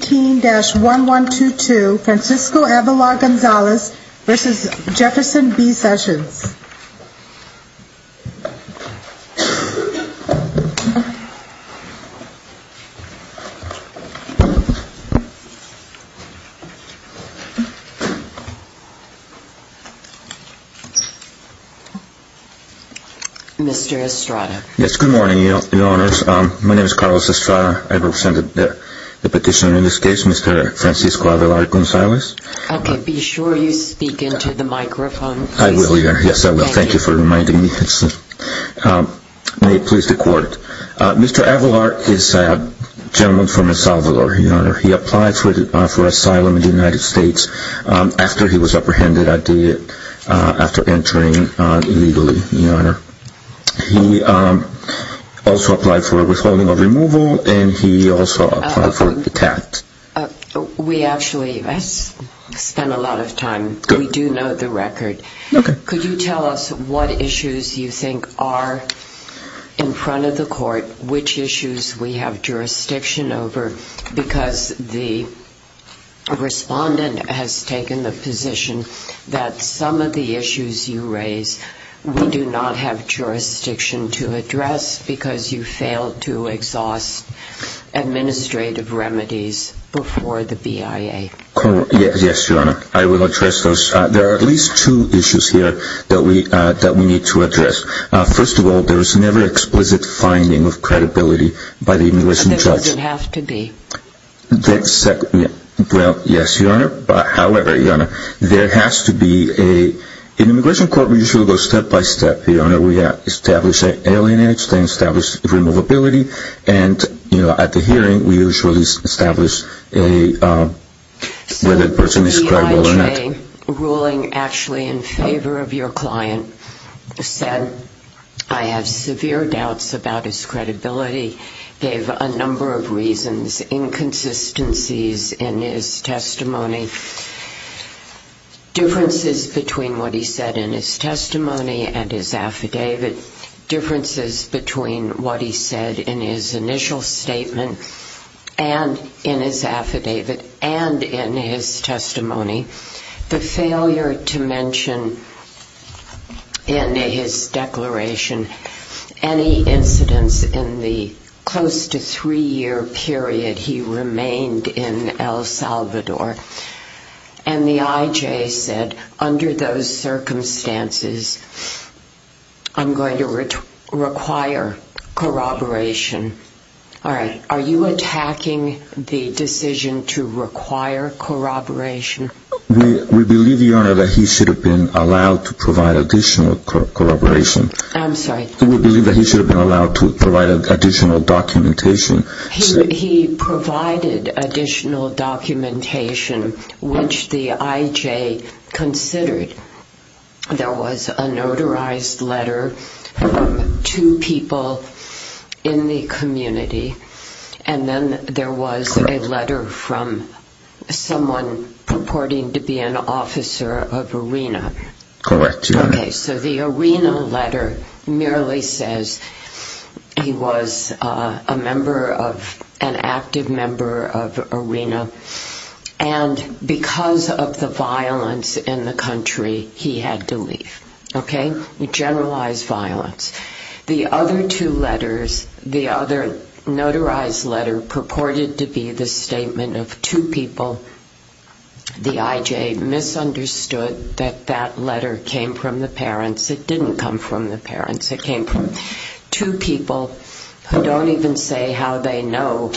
15-1122 Francisco Avelar Gonzalez v. Jefferson B. Sessions Mr. Avelar is a gentleman from El Salvador. He applied for asylum in the United States after he was apprehended after entering illegally. He also applied for a withholding of removal and he also applied for a detact. We actually spent a lot of time, we do know the record. Could you tell us what issues you think are in front of the court, which issues we have jurisdiction over, because the respondent has taken the position that some of the issues you raise we do not have jurisdiction to address because you failed to exhaust administrative remedies. There are at least two issues here that we need to address. First of all, there is never explicit finding of credibility by the immigration judge. Does it have to be? Yes, Your Honor. However, Your Honor, there has to be, in immigration court we usually go step by step. We establish alienation, we establish removability, and at the hearing we usually establish whether the person is credible or not. A ruling actually in favor of your client said, I have severe doubts about his credibility, gave a number of reasons, inconsistencies in his testimony, differences between what he said in his testimony and his affidavit, differences between what he said in his initial statement and in his affidavit and in his testimony. The failure to mention in his declaration any incidents in the close to three-year period he remained in El Salvador. And the IJ said, under those circumstances, I'm going to require corroboration. All right, are you attacking the decision to require corroboration? We believe, Your Honor, that he should have been allowed to provide additional corroboration. I'm sorry? We believe that he should have been allowed to provide additional documentation. He provided additional documentation, which the IJ considered. There was a notarized letter from two people in the community, and then there was a letter from someone purporting to be an officer of ARENA. Correct, Your Honor. Okay, so the ARENA letter merely says he was a member of, an active member of ARENA, and because of the violence in the country, he had to leave. Okay? Generalized violence. The other two letters, the other notarized letter purported to be the statement of two people, the IJ misunderstood that that letter came from the parents. It didn't come from the parents. It came from two people who don't even say how they know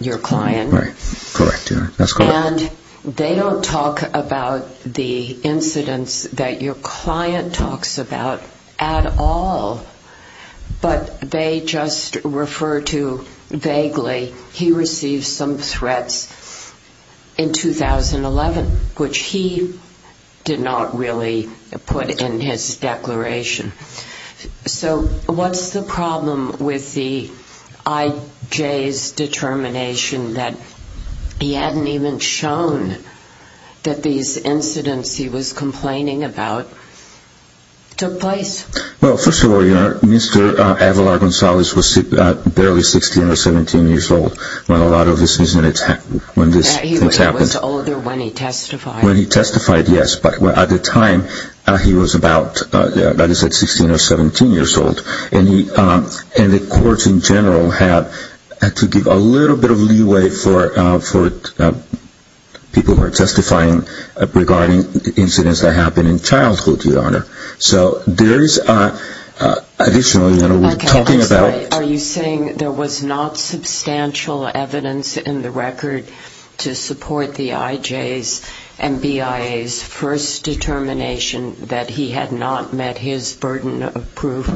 your client. Right. Correct, Your Honor. That's correct. And they don't talk about the incidents that your client talks about at all, but they just refer to, vaguely, he received some threats in 2011, which he did not really put in his declaration. So what's the problem with the IJ's determination that he hadn't even shown that these incidents he was complaining about took place? Well, first of all, you know, Mr. Avalar-Gonzalez was barely 16 or 17 years old when a lot of these incidents happened. He was older when he testified. When he testified, yes. But at the time, he was about, like I said, 16 or 17 years old. And the courts in general had to give a little bit of leeway for people who were testifying regarding incidents that happened in childhood, Your Honor. So there's additional, you know, talking about Are you saying there was not substantial evidence in the record to support the IJ's and BIA's first determination that he had not met his burden of proof?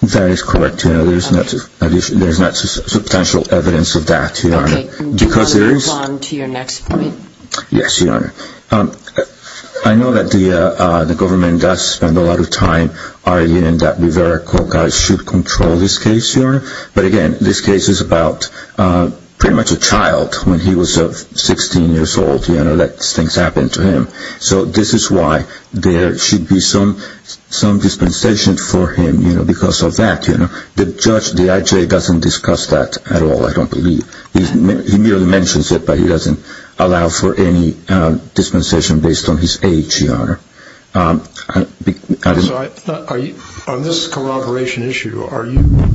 That is correct, Your Honor. There's not substantial evidence of that, Your Honor. Okay. Do you want to move on to your next point? Yes, Your Honor. I know that the government does spend a lot of time arguing that Rivera-Koch should control this case, Your Honor. But again, this case is about pretty much a child when he was 16 years old, you know, that things happened to him. So this is why there should be some dispensation for him, you know, because of that, you know. The judge, the IJ, doesn't discuss that at all, I don't believe. He merely mentions it, but he doesn't allow for any dispensation based on his age, Your Honor. So on this corroboration issue, are you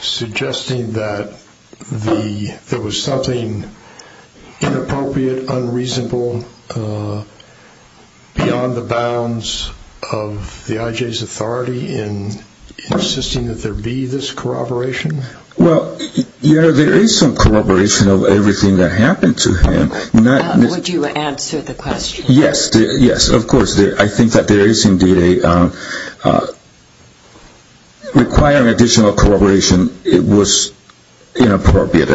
suggesting that there was something inappropriate, unreasonable, beyond the bounds of the IJ's authority in insisting that there be this corroboration? Well, Your Honor, there is some corroboration of everything that happened to him. Would you answer the question? Yes, of course. I think that there is indeed a – requiring additional corroboration was inappropriate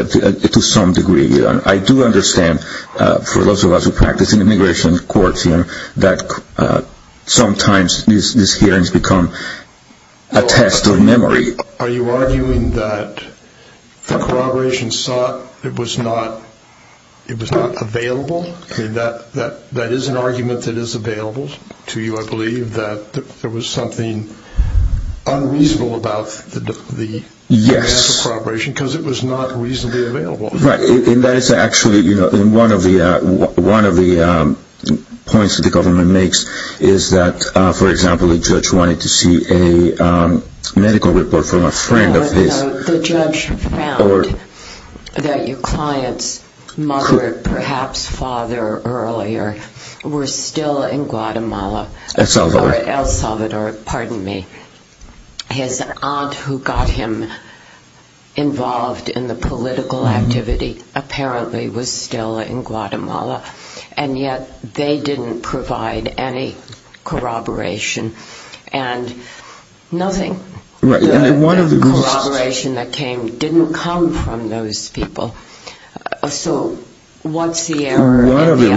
to some degree. I do understand, for those of us who practice in immigration courts, that sometimes these hearings become a test of memory. Are you arguing that the corroboration sought, it was not available? That is an argument that is available to you, I believe, that there was something unreasonable about the mass of corroboration because it was not reasonably available. Right, and that is actually, you know, one of the points that the government makes is that, for example, a judge wanted to see a medical report from a friend of his. The judge found that your client's mother, perhaps father earlier, was still in Guatemala. El Salvador. El Salvador, pardon me. His aunt who got him involved in the political activity apparently was still in Guatemala, and yet they didn't provide any corroboration and nothing. The corroboration that came didn't come from those people. So what's the error in the ICA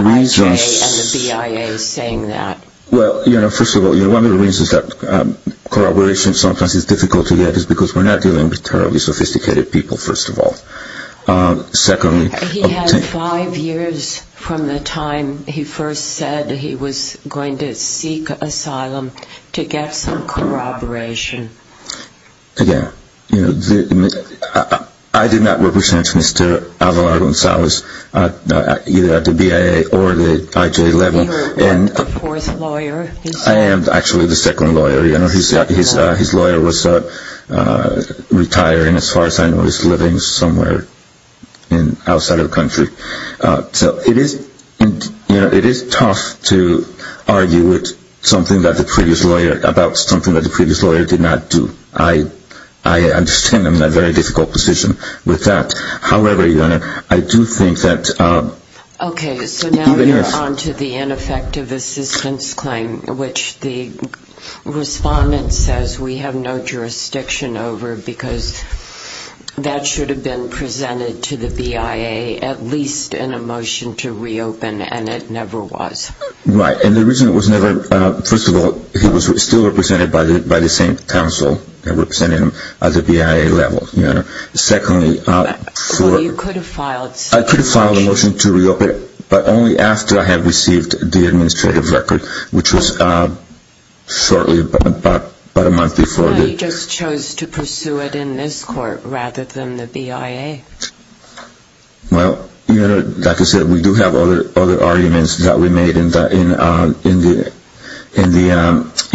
and the BIA saying that? Well, you know, first of all, one of the reasons that corroboration sometimes is difficult to get is because we're not dealing with terribly sophisticated people, first of all. He had five years from the time he first said he was going to seek asylum to get some corroboration. Again, you know, I did not represent Mr. Alvaro Gonzalez either at the BIA or the IJ level. You were his fourth lawyer. I am actually the second lawyer. You know, his lawyer was retiring as far as I know. He's living somewhere outside of the country. So it is tough to argue about something that the previous lawyer did not do. I understand I'm in a very difficult position with that. However, I do think that... Okay, so now you're onto the ineffective assistance claim, which the respondent says we have no jurisdiction over because that should have been presented to the BIA at least in a motion to reopen, and it never was. Right, and the reason it was never... First of all, he was still represented by the same council that represented him at the BIA level. Secondly... Well, you could have filed... I could have filed a motion to reopen, but only after I had received the administrative record, which was shortly, about a month before... No, he just chose to pursue it in this court rather than the BIA. Well, you know, like I said, we do have other arguments that we made in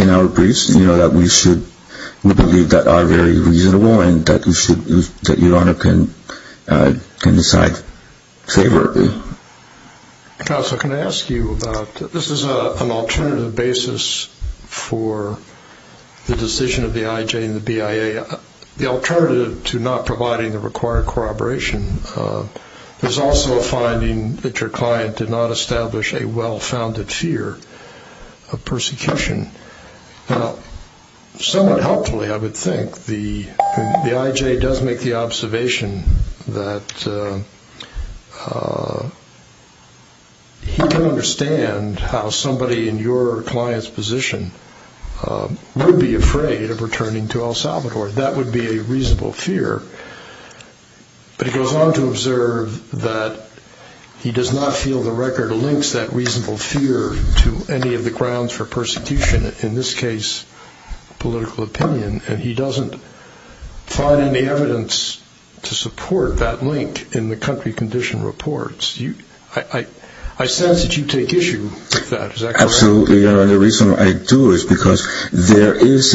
our briefs, you know, that we believe that are very reasonable and that Your Honor can decide favorably. Counsel, can I ask you about... This is an alternative basis for the decision of the IJ and the BIA. The alternative to not providing the required corroboration is also a finding that your client did not establish a well-founded fear of persecution. Now, somewhat helpfully, I would think, the IJ does make the observation that he can understand how somebody in your client's position would be afraid of returning to El Salvador. That would be a reasonable fear. But he goes on to observe that he does not feel the record links that reasonable fear to any of the grounds for persecution, in this case, political opinion. And he doesn't find any evidence to support that link in the country condition reports. I sense that you take issue with that. Absolutely, Your Honor. And the reason I do is because there is...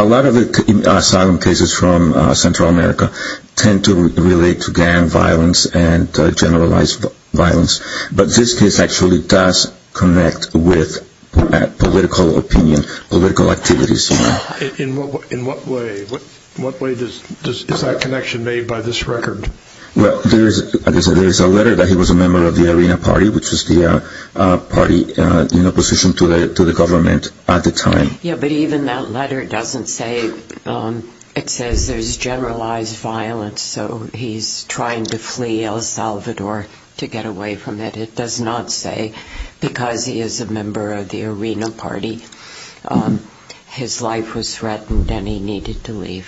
A lot of the asylum cases from Central America tend to relate to gang violence and generalized violence. But this case actually does connect with political opinion, political activities. In what way? In what way is that connection made by this record? Well, there is a letter that he was a member of the Arena Party, which was the party in opposition to the government at the time. Yeah, but even that letter doesn't say... It says there's generalized violence, so he's trying to flee El Salvador to get away from it. It does not say, because he is a member of the Arena Party, his life was threatened and he needed to leave.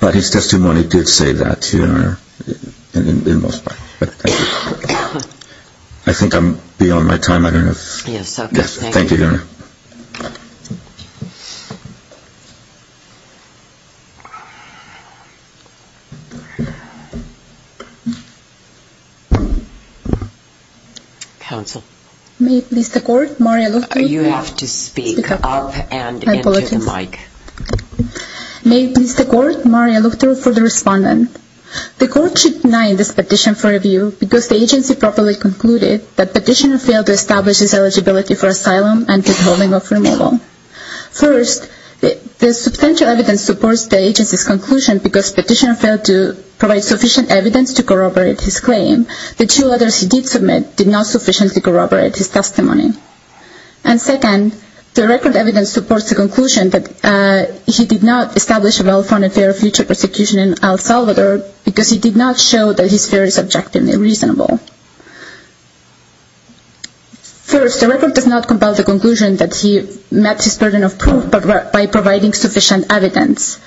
But his testimony did say that, Your Honor, in most parts. I think I'm beyond my time, I don't know if... Yes, okay, thank you. Yes, thank you, Your Honor. Counsel. May it please the Court, Mario Luffi? You have to speak up and into the mic. I apologize. May it please the Court, Mario Luffi for the respondent. The Court should deny this petition for review because the agency properly concluded that petitioner failed to establish his eligibility for asylum and withholding of removal. First, the substantial evidence supports the agency's conclusion because petitioner failed to provide sufficient evidence to corroborate his claim. The two letters he did submit did not sufficiently corroborate his testimony. And second, the record evidence supports the conclusion that he did not establish a well-founded fear of future persecution in El Salvador because he did not show that his fear is objectively reasonable. First, the record does not compel the conclusion that he met his burden of proof by providing sufficient evidence.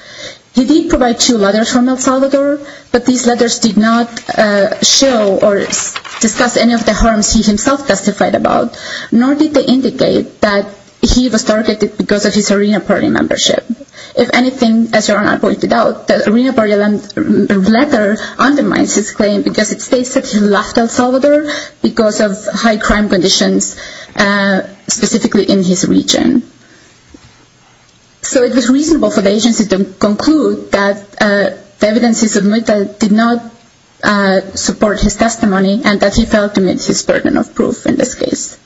He did provide two letters from El Salvador, but these letters did not show or discuss any of the harms he himself testified about. Nor did they indicate that he was targeted because of his Arena Party membership. If anything, as Your Honor pointed out, the Arena Party letter undermines his claim because it states that he left El Salvador because of high crime conditions, specifically in his region. So it was reasonable for the agency to conclude that the evidence he submitted did not support his testimony and that he failed to meet his burden of proof in this case.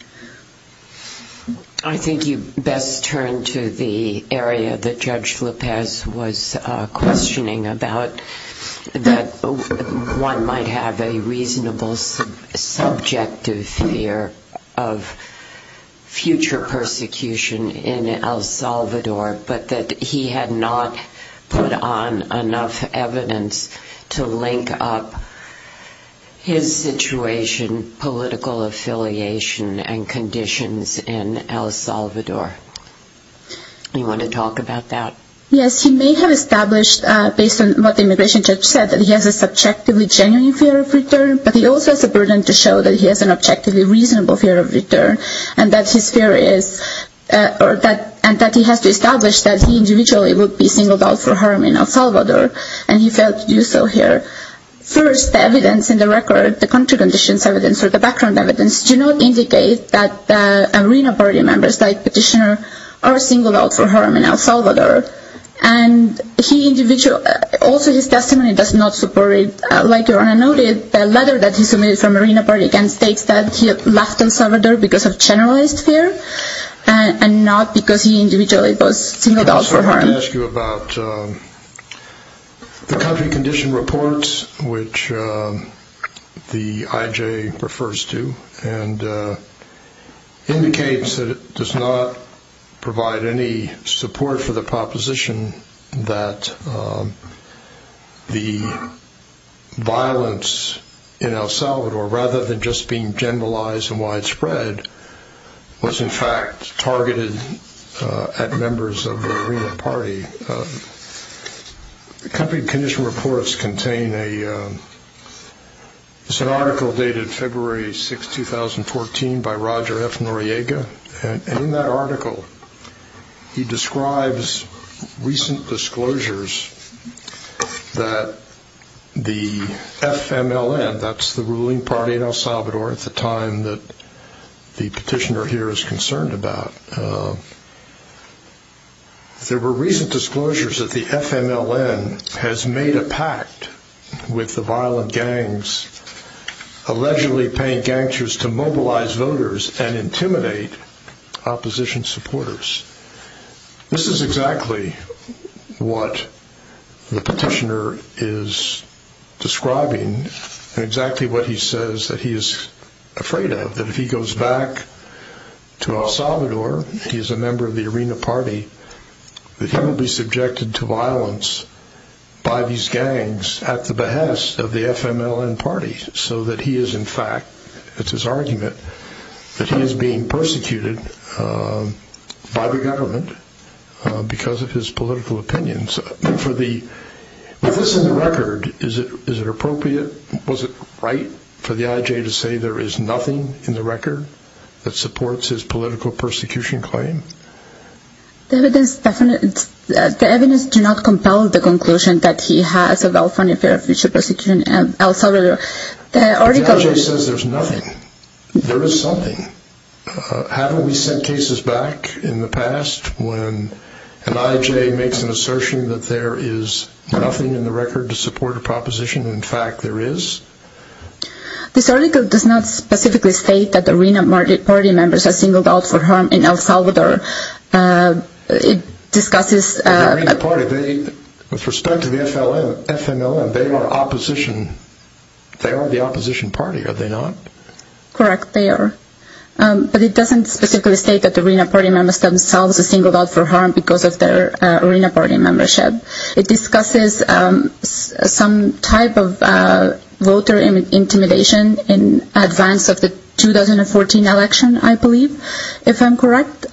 I think you best turn to the area that Judge Lopez was questioning about, that one might have a reasonable subjective fear of future persecution in El Salvador, but that he had not put on enough evidence to link up his situation, political affiliation, and conditions in El Salvador. Do you want to talk about that? Yes, he may have established, based on what the immigration judge said, that he has a subjectively genuine fear of return, but he also has a burden to show that he has an objectively reasonable fear of return and that he has to establish that he individually would be singled out for harm in El Salvador and he failed to do so here. First, the evidence in the record, the country conditions evidence or the background evidence, do not indicate that Arena Party members like Petitioner are singled out for harm in El Salvador. Also, his testimony does not support it. Like your Honor noted, the letter that he submitted from Arena Party states that he left El Salvador because of generalized fear and not because he individually was singled out for harm. Can I also ask you about the country condition reports, which the IJ refers to, and indicates that it does not provide any support for the proposition that the violence in El Salvador, rather than just being generalized and widespread, was in fact targeted at members of the Arena Party. The country condition reports contain an article dated February 6, 2014, by Roger F. Noriega, and in that article he describes recent disclosures that the FMLN, that's the ruling party in El Salvador at the time that the Petitioner here is concerned about, there were recent disclosures that the FMLN has made a pact with the violent gangs, allegedly paying gangsters to mobilize voters and intimidate opposition supporters. This is exactly what the Petitioner is describing, and exactly what he says that he is afraid of. That if he goes back to El Salvador, he is a member of the Arena Party, that he will be subjected to violence by these gangs at the behest of the FMLN party, so that he is in fact, it's his argument, that he is being persecuted by the government because of his political opinions. With this in the record, is it appropriate, was it right for the IJ to say there is nothing in the record that supports his political persecution claim? The evidence does not compel the conclusion that he has of El Salvador. The IJ says there is nothing. There is something. Haven't we sent cases back in the past when an IJ makes an assertion that there is nothing in the record to support a proposition? In fact, there is. This article does not specifically state that the Arena Party members are singled out for harm in El Salvador. The Arena Party, with respect to the FMLN, they are the opposition party, are they not? Correct, they are. But it doesn't specifically state that the Arena Party members themselves are singled out for harm because of their Arena Party membership. It discusses some type of voter intimidation in advance of the 2014 election, I believe, if I'm correct.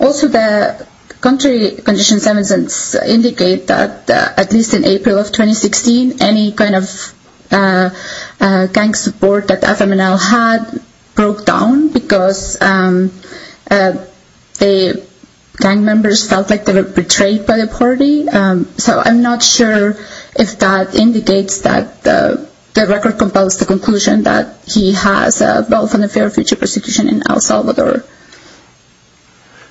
Also, the country conditions evidence indicate that at least in April of 2016, any kind of gang support that the FMLN had broke down because the gang members felt like they were betrayed by the party. So I'm not sure if that indicates that the record compels the conclusion that he has a well-founded fear of future persecution in El Salvador.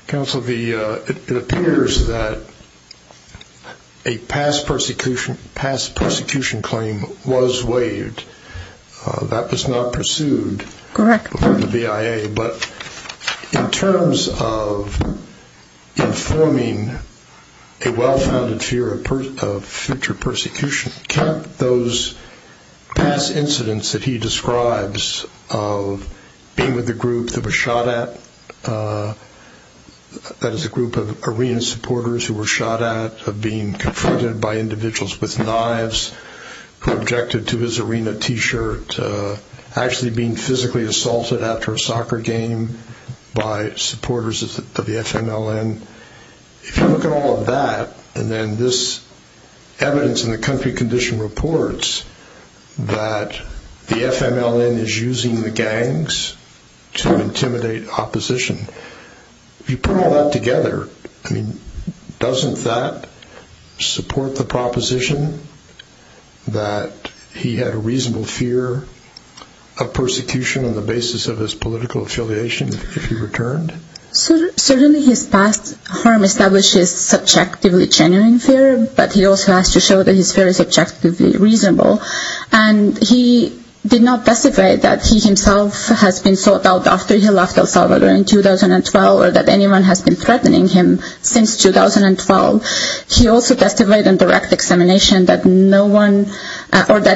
Counsel, it appears that a past persecution claim was waived. That was not pursued before the BIA. But in terms of informing a well-founded fear of future persecution, can't those past incidents that he describes of being with a group that was shot at, that is a group of arena supporters who were shot at, of being confronted by individuals with knives, who objected to his arena t-shirt, actually being physically assaulted after a soccer game by supporters of the FMLN. If you look at all of that, and then this evidence in the country condition reports that the FMLN is using the gangs to intimidate opposition, if you put all that together, doesn't that support the proposition that he had a reasonable fear of persecution on the basis of his political affiliation if he returned? Certainly his past harm establishes subjectively genuine fear, but he also has to show that his fear is subjectively reasonable. He did not testify that he himself has been sought out after he left El Salvador in 2012 or that anyone has been threatening him since 2012. He also testified in direct examination that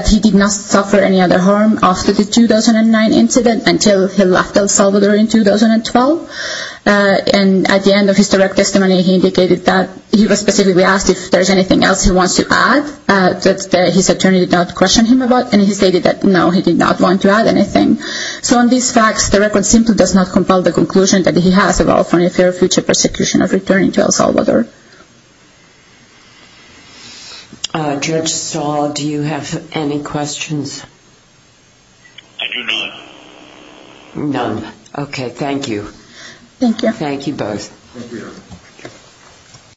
he did not suffer any other harm after the 2009 incident until he left El Salvador in 2012. And at the end of his direct testimony, he indicated that he was specifically asked if there is anything else he wants to add, that his attorney did not question him about, and he stated that no, he did not want to add anything. So on these facts, the record simply does not compel the conclusion that he has about any fear of future persecution of returning to El Salvador. Judge Stahl, do you have any questions? I do not. None. Okay, thank you. Thank you. Thank you both. Thank you.